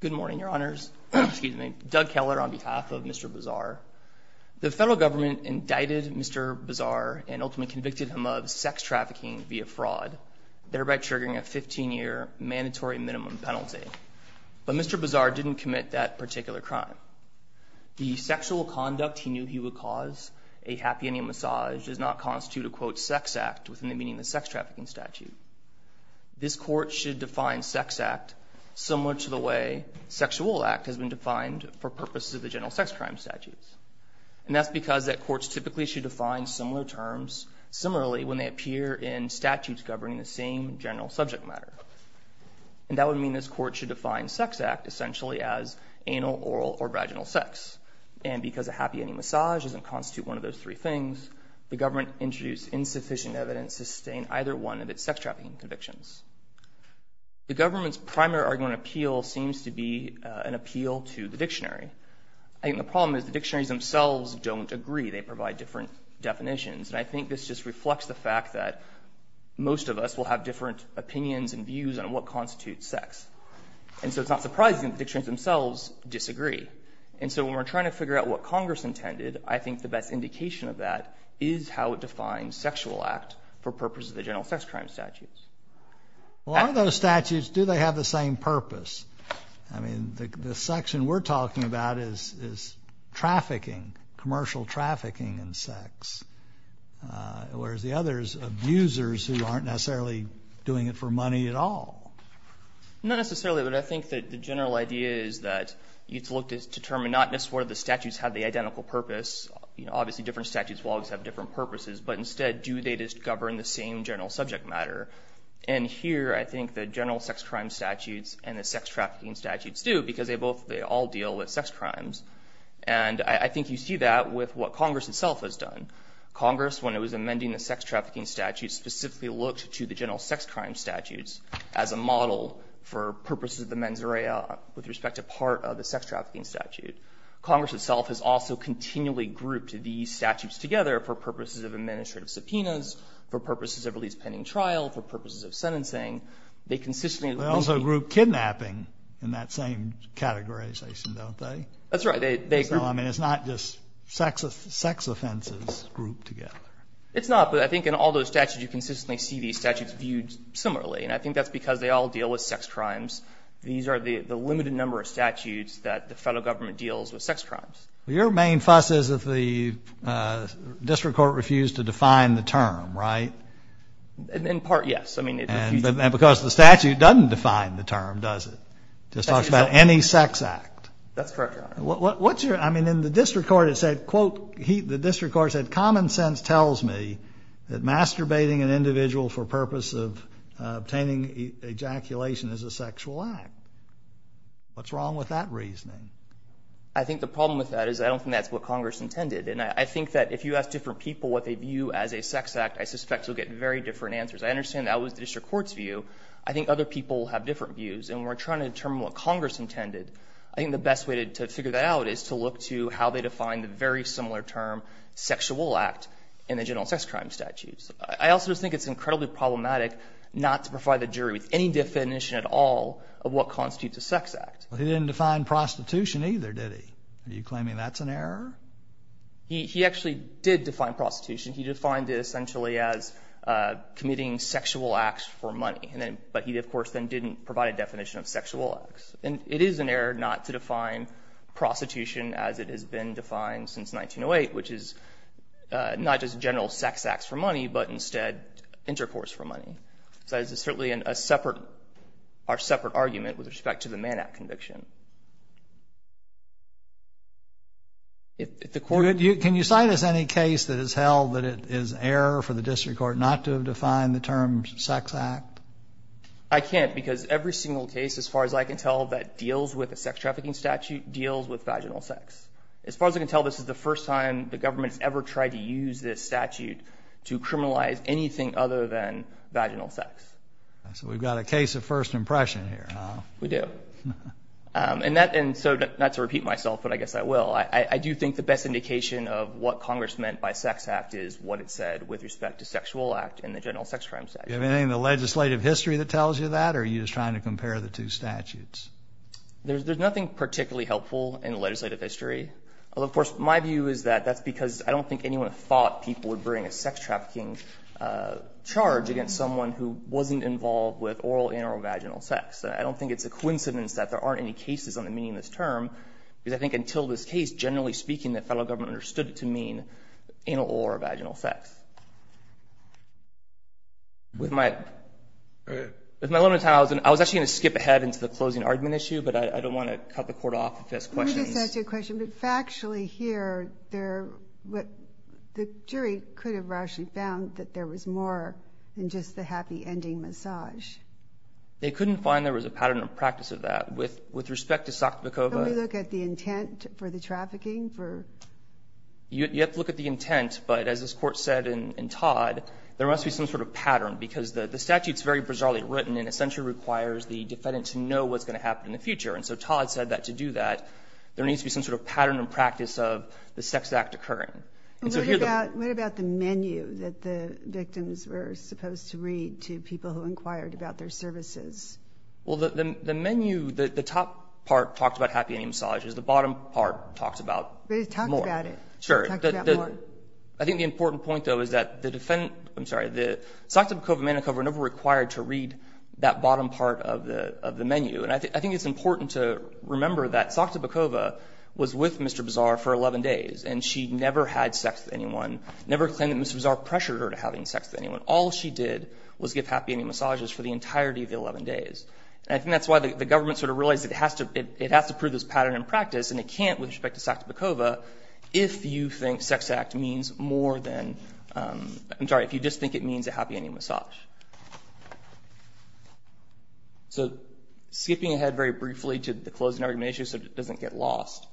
Good morning, your honors. Doug Keller on behalf of Mr. Bazar. The federal government indicted Mr. Bazar and ultimately convicted him of sex trafficking via fraud, thereby triggering a 15-year mandatory minimum penalty. But Mr. Bazar didn't commit that particular crime. The sexual conduct he knew he would cause, a happy ending massage, does not constitute a quote sex act within the meaning of the sex trafficking statute. This court should define sex act similar to the way sexual act has been defined for purposes of the general sex crime statutes. And that's because that courts typically should define similar terms similarly when they appear in statutes governing the same general subject matter. And that would mean this court should define sex act essentially as anal, oral, or vaginal sex. And because a happy ending massage doesn't constitute one of those three things, the government introduced insufficient evidence to The government's primary argument of appeal seems to be an appeal to the dictionary. I think the problem is the dictionaries themselves don't agree. They provide different definitions. And I think this just reflects the fact that most of us will have different opinions and views on what constitutes sex. And so it's not surprising that the dictionaries themselves disagree. And so when we're trying to figure out what Congress intended, I think the best indication of that is how it defines sexual act for purposes of the general sex crime statutes. Well, are those statutes, do they have the same purpose? I mean, the section we're talking about is trafficking, commercial trafficking in sex. Whereas the others, abusers who aren't necessarily doing it for money at all. Not necessarily, but I think that the general idea is that you have to look to determine not necessarily the statutes have the identical purpose. You know, obviously different statutes will always have different purposes. But instead, do they just govern the same general subject matter? And here, I think the general sex crime statutes and the sex trafficking statutes do because they both, they all deal with sex crimes. And I think you see that with what Congress itself has done. Congress, when it was amending the sex trafficking statutes, specifically looked to the general sex crime statutes as a model for purposes of the mens rea with respect to part of the sex trafficking statute. Congress itself has also continually grouped these statutes together for purposes of administrative subpoenas, for purposes of release pending trial, for purposes of sentencing. They consistently... They also group kidnapping in that same categorization, don't they? That's right. They group... So, I mean, it's not just sex offenses grouped together. It's not, but I think in all those statutes, you consistently see these statutes viewed similarly. And I think that's because they all deal with sex crimes. These are the limited number of statutes that the federal government deals with sex crimes. Your main fuss is if the district court refused to define the term, right? In part, yes. I mean... And because the statute doesn't define the term, does it? It just talks about any sex act. That's correct, Your Honor. What's your... I mean, in the district court, it said, quote, the district court said, common sense tells me that masturbating an individual for purpose of obtaining ejaculation is a sexual act. What's wrong with that reasoning? I think the problem with that is I don't think that's what Congress intended. And I think that if you ask different people what they view as a sex act, I suspect you'll get very different answers. I understand that was the district court's view. I think other people have different views. And we're trying to determine what Congress intended. I think the best way to figure that out is to look to how they define the very similar term, sexual act, in the general sex crime statutes. I also think it's incredibly problematic not to provide the jury with any definition at all of what constitutes a sex act. He didn't define prostitution either, did he? Are you claiming that's an error? He actually did define prostitution. He defined it essentially as committing sexual acts for money. But he, of course, then didn't provide a definition of sexual acts. And it is an error not to define prostitution as it has been defined since 1908, which is not just general sex acts for money, but instead intercourse for money. So it's certainly a separate argument with respect to the Mann Act conviction. Can you cite us any case that has held that it is error for the district court not to have defined the term sex act? I can't because every single case, as far as I can tell, that deals with a sex trafficking statute deals with vaginal sex. As far as I can tell, this is the first time the government's ever tried to use this statute to criminalize anything other than vaginal sex. So we've got a case of first impression here. We do. And that, and so not to repeat myself, but I guess I will. I do think the best indication of what Congress meant by sex act is what it said with respect to sexual act and the general sex crime statute. Do you have anything in the legislative history that tells you that? Or are you just trying to compare the two statutes? There's nothing particularly helpful in legislative history. Of course, my view is that that's because I don't think anyone thought people would bring a sex against someone who wasn't involved with oral and vaginal sex. I don't think it's a coincidence that there aren't any cases on the meaning of this term, because I think until this case, generally speaking, the federal government understood it to mean anal or vaginal sex. With my limited time, I was actually going to skip ahead into the closing argument issue, but I don't want to cut the court off if there's questions. Let me just ask you a question. But factually here, what the jury could have actually found that there was more than just the happy ending massage. They couldn't find there was a pattern or practice of that. With respect to Sokotvikova. Can we look at the intent for the trafficking? You have to look at the intent, but as this Court said in Todd, there must be some sort of pattern, because the statute's very bizarrely written and essentially requires the defendant to know what's going to happen in the future. And so Todd said that to do that, there needs to be some sort of pattern or practice of the sex act occurring. What about the menu that the victims were supposed to read to people who inquired about their services? Well, the menu, the top part talks about happy ending massages. The bottom part talks about more. Talk about it. Sure. I think the important point, though, is that the defendant, I'm sorry, the Sokotvikova and Manicova were never required to read that bottom part of the menu. And I think it's important to remember that Sokotvikova was with Mr. Bizarre for 11 days, and she never had sex with anyone, never claimed that Mr. Bizarre pressured her to having sex with anyone. All she did was give happy ending massages for the entirety of the 11 days. And I think that's why the government sort of realized it has to prove this pattern in practice, and it can't with respect to Sokotvikova if you think sex act means more than, I'm sorry, if you just think it means a happy ending massage. So skipping ahead very briefly to the closing argument issue so it doesn't get lost,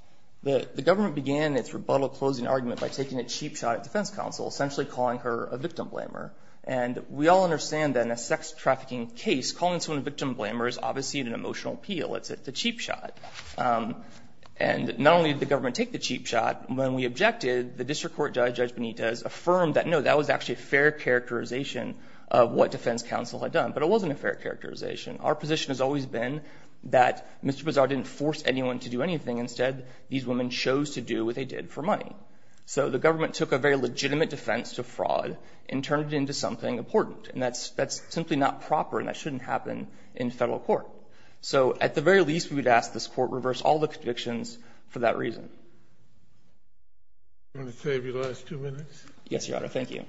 the government began its rebuttal closing argument by taking a cheap shot at defense counsel, essentially calling her a victim blamer. And we all understand that in a sex trafficking case, calling someone a victim blamer is obviously an emotional appeal. It's a cheap shot. And not only did the government take the cheap shot, when we objected, the district court judge, Judge Benitez, affirmed that, no, that was actually a fair characterization of what defense counsel had done. But it wasn't a fair characterization. Our position has always been that Mr. Bazar didn't force anyone to do anything. Instead, these women chose to do what they did for money. So the government took a very legitimate defense to fraud and turned it into something important. And that's simply not proper, and that shouldn't happen in Federal court. So at the very least, we would ask this Court to reverse all the convictions for that reason. Sotomayor, I'm going to save you the last two minutes. Yes, Your Honor. Thank you.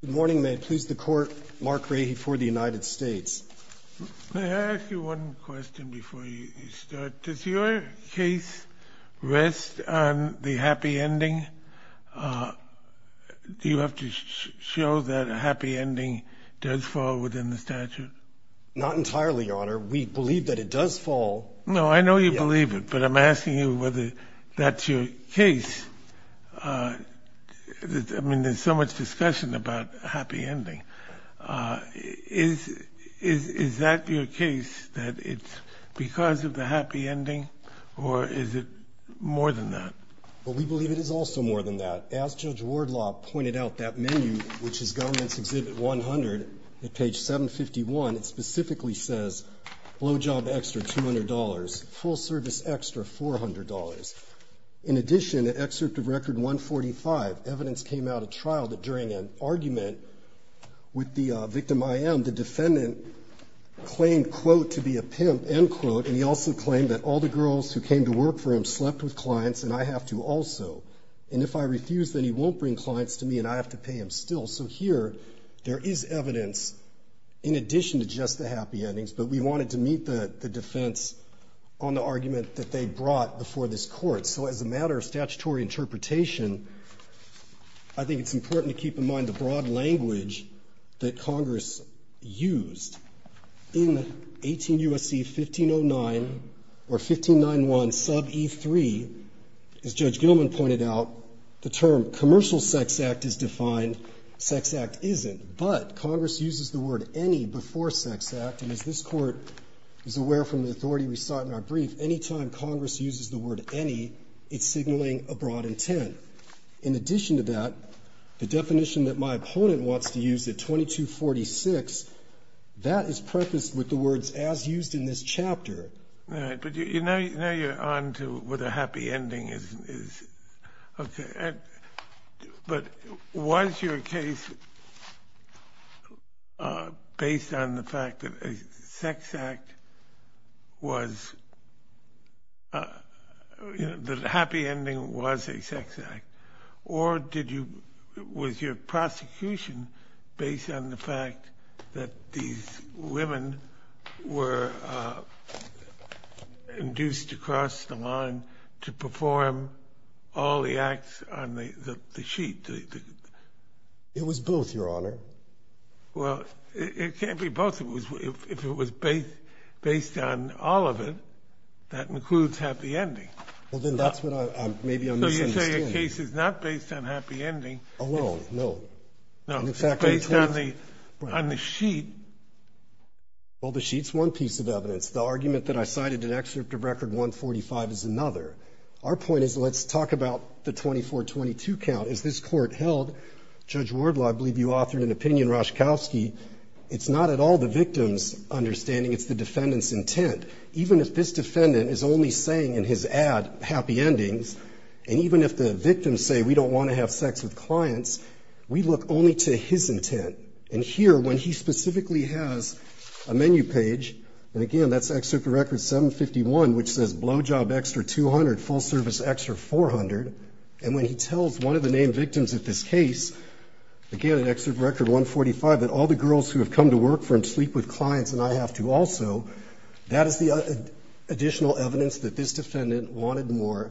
Good morning. May it please the Court, Mark Rahe for the United States. May I ask you one question before you start? Does your case rest on the happy ending does fall within the statute? Not entirely, Your Honor. We believe that it does fall. No, I know you believe it, but I'm asking you whether that's your case. I mean, there's so much discussion about happy ending. Is that your case, that it's because of the happy ending, or is it more than that? Well, we believe it is also more than that. As Judge Wardlaw pointed out, that in evidence exhibit 100, at page 751, it specifically says, blow job extra $200, full service extra $400. In addition, at excerpt of record 145, evidence came out of trial that during an argument with the victim IM, the defendant claimed, quote, to be a pimp, end quote, and he also claimed that all the girls who came to work for him slept with clients, and I have to also. And if I refuse, then he There is evidence in addition to just the happy endings, but we wanted to meet the defense on the argument that they brought before this court. So as a matter of statutory interpretation, I think it's important to keep in mind the broad language that Congress used. In 18 U.S.C. 1509, or 1591 sub E3, as Judge But Congress uses the word any before sex act, and as this court is aware from the authority we sought in our brief, any time Congress uses the word any, it's signaling a broad intent. In addition to that, the definition that my opponent wants to use at 2246, that is prefaced with the words as used in this chapter. But you know you're on to where the happy ending is. Okay. But was your case based on the fact that a sex act was, you know, the happy ending was a sex act, or did you, was your prosecution based on the fact that these women were induced to cross the line to perform all the acts on the sheet? It was both, Your Honor. Well, it can't be both. If it was based on all of it, that includes happy ending. Well, then that's what I'm, maybe I'm misunderstanding. So you're saying your case is not based on happy ending? Alone, no. No, it's based on the, on the sheet. Well, the sheet's one piece of evidence. The argument that I cited in excerpt of record 145 is another. Our point is, let's talk about the 2422 count. As this court held, Judge Wardlaw, I believe you authored an opinion, Roszkowski, it's not at all the victim's understanding, it's the defendant's intent. Even if this defendant is only saying in his ad happy endings, and even if the victims say we don't want to have sex with clients, we look only to his intent. And here, when he specifically has a menu page, and again, that's excerpt of record 751, which says blow job extra 200, full service extra 400. And when he tells one of the named victims of this case, again, in excerpt of record 145, that all the girls who have come to work sleep with clients and I have to also, that is the additional evidence that this defendant wanted more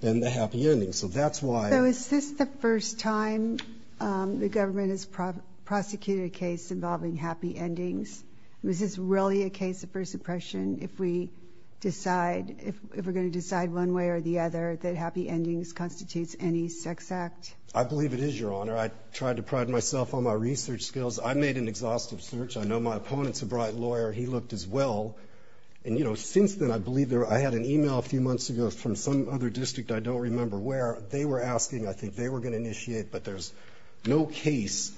than the happy ending. So that's why. So is this the first time the government has prosecuted a case involving happy endings? Is this really a case of first impression if we decide, if we're going to decide one way or the other, that happy endings constitutes any sex act? I believe it is, Your Honor. I tried to pride myself on my research skills. I made an exhaustive search. I know my opponent's a bright lawyer. He looked as well. And, you know, since then, I believe I had an email a few months ago from some other district I don't remember where. They were asking. I think they were going to initiate, but there's no case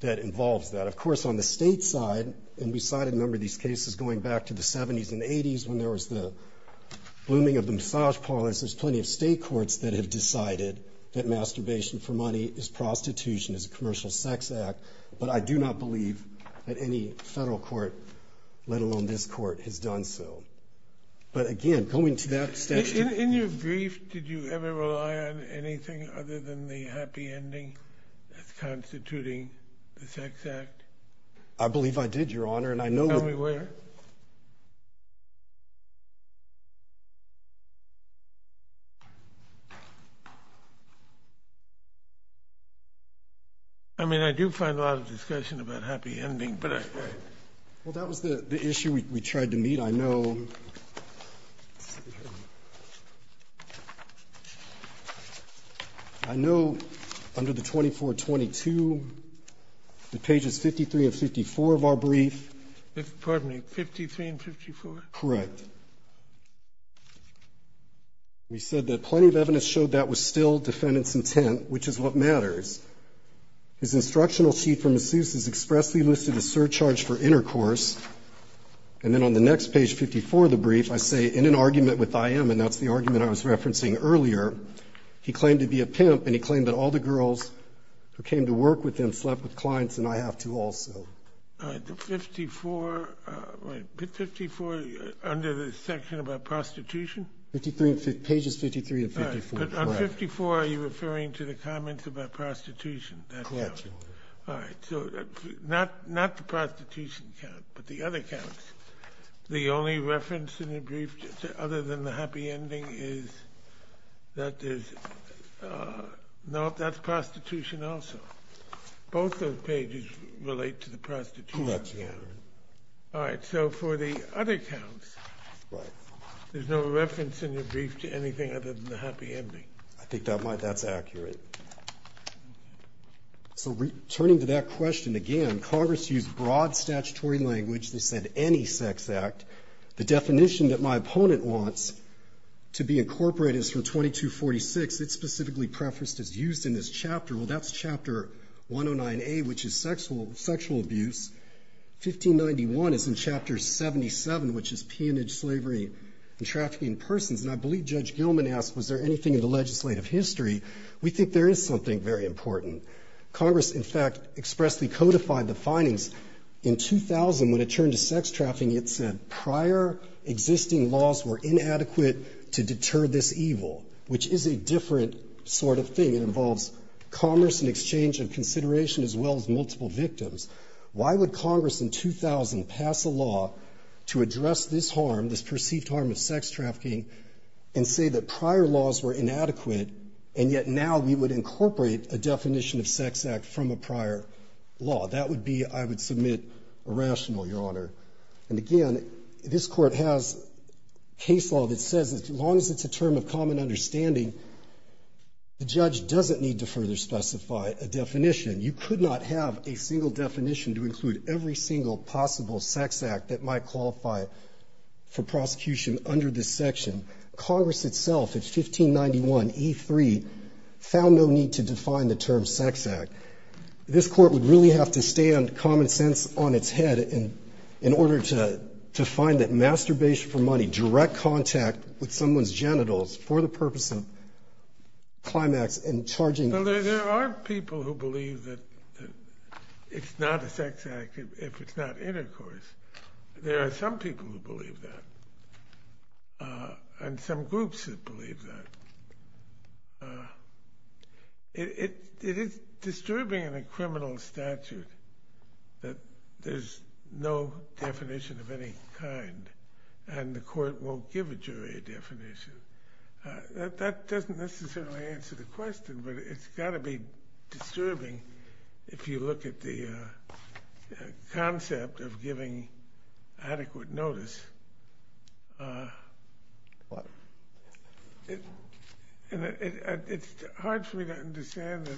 that involves that. Of course, on the state side, and we cited a number of these cases going back to the 70s and 80s when there was the blooming of the massage parlors, there's plenty of state courts that have decided that masturbation for money is prostitution, is a crime. I don't believe that any federal court, let alone this court, has done so. But, again, going to that... In your brief, did you ever rely on anything other than the happy ending that's constituting the sex act? I believe I did, but I... Well, that was the issue we tried to meet. I know under the 2422, the pages 53 and 54 of our brief... Pardon me, 53 and 54? Correct. We said that plenty of evidence showed that was still defendant's intent, which is what matters. His instructional sheet from ASUS has expressly listed a surcharge for intercourse. And then on the next page, 54 of the brief, I say, in an argument with IM, and that's the argument I was referencing earlier, he claimed to be a pimp, and he claimed that all the girls who came to work with him slept with clients, and I have to also. All right. The 54... Wait. 54, under the section about prostitution? 53 and... Pages 53 and 54, correct. All right. But on 54, are you referring to the comments about prostitution? That counts. Correct. All right. So not the prostitution count, but the other counts. The only reference in your brief other than the happy ending is that there's... No, that's prostitution also. Both those pages relate to the prostitution count. Correct, yeah. All right. So for the other counts... Right. There's no reference in your brief to anything other than the happy ending. I think that's accurate. So returning to that question again, Congress used broad statutory language. They said any sex act. The definition that my opponent wants to be incorporated is from 2246. It's specifically prefaced as used in this chapter. Well, that's chapter 109A, which is sexual abuse. 1591 is in chapter 77, which is peonage, slavery, and trafficking in persons. And I believe Judge Gilman asked, was there anything in the legislative history? We think there is something very important. Congress, in fact, expressly codified the findings. In 2000, when it turned to sex trafficking, it said prior existing laws were inadequate to deter this evil, which is a different sort of thing. It involves commerce and exchange of consideration as well as multiple victims. Why would Congress in 2000 pass a law to address this harm, this perceived harm of sex trafficking, and say that prior laws were inadequate, and yet now we would incorporate a definition of sex act from a prior law? That would be, I would submit, irrational, Your Honor. And again, this Court has case law that says as long as it's a term of common understanding, the judge doesn't need to further specify a definition. You could not have a single definition to include every single possible sex act that might qualify for prosecution under this section. Congress itself, in 1591, E3, found no need to define the term sex act. This Court would really have to stand common sense on its head in order to find that masturbation for money, direct contact with someone's genitals for the purpose of climax and charging... Well, there are people who believe that it's not a sex act if it's not intercourse. There are some people who believe that, and some groups that believe that. It is disturbing in a criminal statute that there's no definition of any kind, and the Court won't give a jury definition. That doesn't necessarily answer the question, but it's got to be disturbing if you look at the concept of giving adequate notice. It's hard for me to understand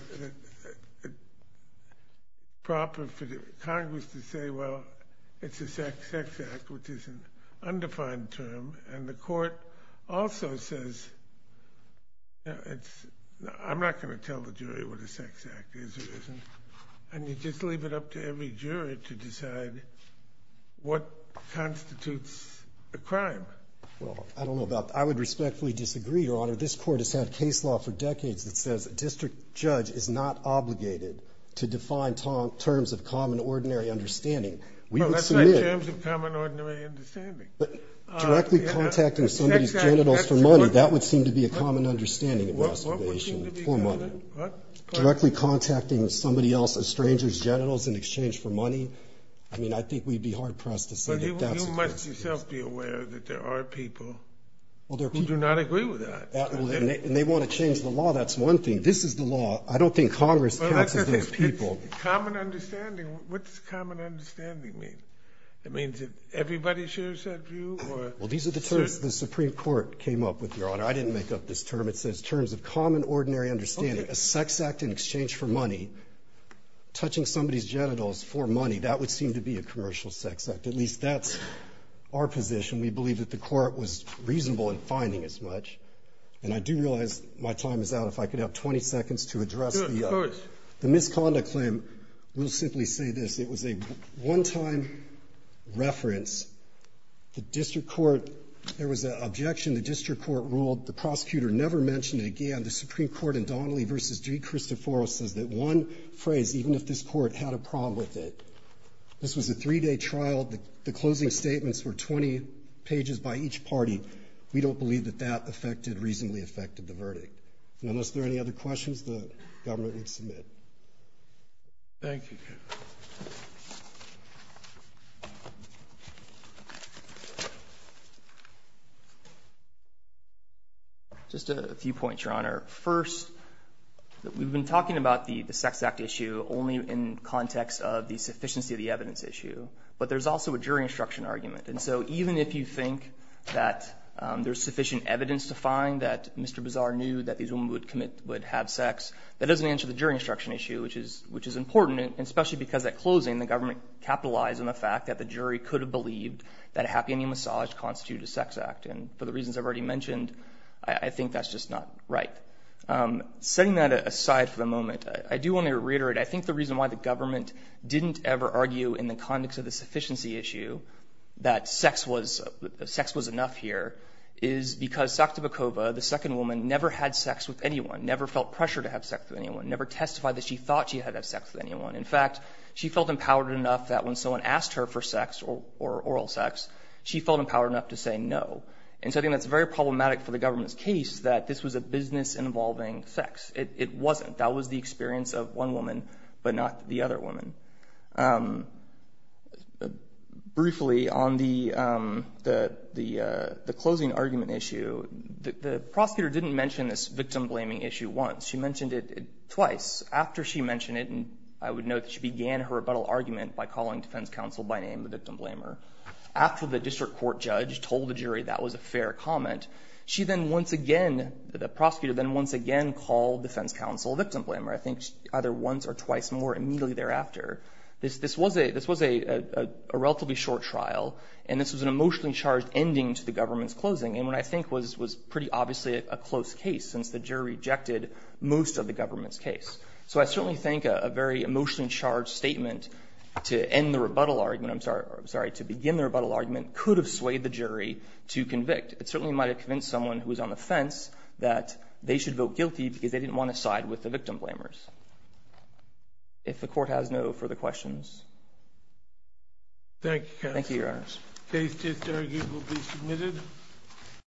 the proper for Congress to say, well, it's a sex act, which is an undefined term, and the Court also says, I'm not going to tell the jury what a sex act is or isn't, and you just leave it up to every jury to decide what constitutes a crime. Well, I don't know about... I would respectfully disagree, Your Honor. This Court has had case law for decades that says a district judge is not obligated to define terms of common ordinary understanding. We would submit... Directly contacting somebody's genitals for money, that would seem to be a common understanding of masturbation for a mother. Directly contacting somebody else's stranger's genitals in exchange for money, I mean, I think we'd be hard-pressed to say that that's a crime. But you must yourself be aware that there are people who do not agree with that. And they want to change the law. That's one thing. This is the law. I don't think Congress counts as those people. Common understanding? What does common understanding mean? It means that everybody shares that view, or... Well, these are the terms the Supreme Court came up with, Your Honor. I didn't make up this term. It says terms of common ordinary understanding. A sex act in exchange for money, touching somebody's genitals for money, that would seem to be a commercial sex act. At least that's our position. We believe that the Court was reasonable in finding as much. And I do realize my time is out. If I could have 20 seconds to address the... Sure, of course. The misconduct claim, we'll simply say this. It was a one-time reference. The District Court, there was an objection the District Court ruled. The prosecutor never mentioned it again. The Supreme Court in Donnelly v. DeCristoforo says that one phrase, even if this Court had a problem with it. This was a three-day trial. The closing statements were 20 pages by each party. We don't believe that that affected, reasonably affected the case. Thank you. Just a few points, Your Honor. First, we've been talking about the sex act issue only in context of the sufficiency of the evidence issue. But there's also a jury instruction argument. And so even if you think that there's sufficient evidence to find that Mr. Bizarre knew that these women would have sex, that doesn't answer the jury instruction issue, which is important, especially because at closing, the government capitalized on the fact that the jury could have believed that a happy ending massage constituted a sex act. And for the reasons I've already mentioned, I think that's just not right. Setting that aside for the moment, I do want to reiterate, I think the reason why the government didn't ever argue in the context of the sufficiency issue that sex was enough here is because the second woman never had sex with anyone, never felt pressure to have sex with anyone, never testified that she thought she had sex with anyone. In fact, she felt empowered enough that when someone asked her for sex or oral sex, she felt empowered enough to say no. And so I think that's very problematic for the government's case that this was a business involving sex. It wasn't. That was the experience of one woman, but not the other woman. Briefly, on the closing argument issue, the prosecutor didn't mention this victim blaming issue once. She mentioned it twice. After she mentioned it, and I would note that she began her rebuttal argument by calling defense counsel by name the victim blamer. After the district court judge told the jury that was a fair comment, the prosecutor then once again called defense victim blamer. I think either once or twice more immediately thereafter. This was a relatively short trial, and this was an emotionally charged ending to the government's closing, and what I think was pretty obviously a close case since the jury rejected most of the government's case. So I certainly think a very emotionally charged statement to end the rebuttal argument, I'm sorry, to begin the rebuttal argument could have swayed the jury to convict. It certainly might have convinced someone who was on the fence that they should vote guilty because they didn't want to side with the victim blamers. If the court has no further questions. Thank you. Thank you, your honors. Case just argued will be submitted.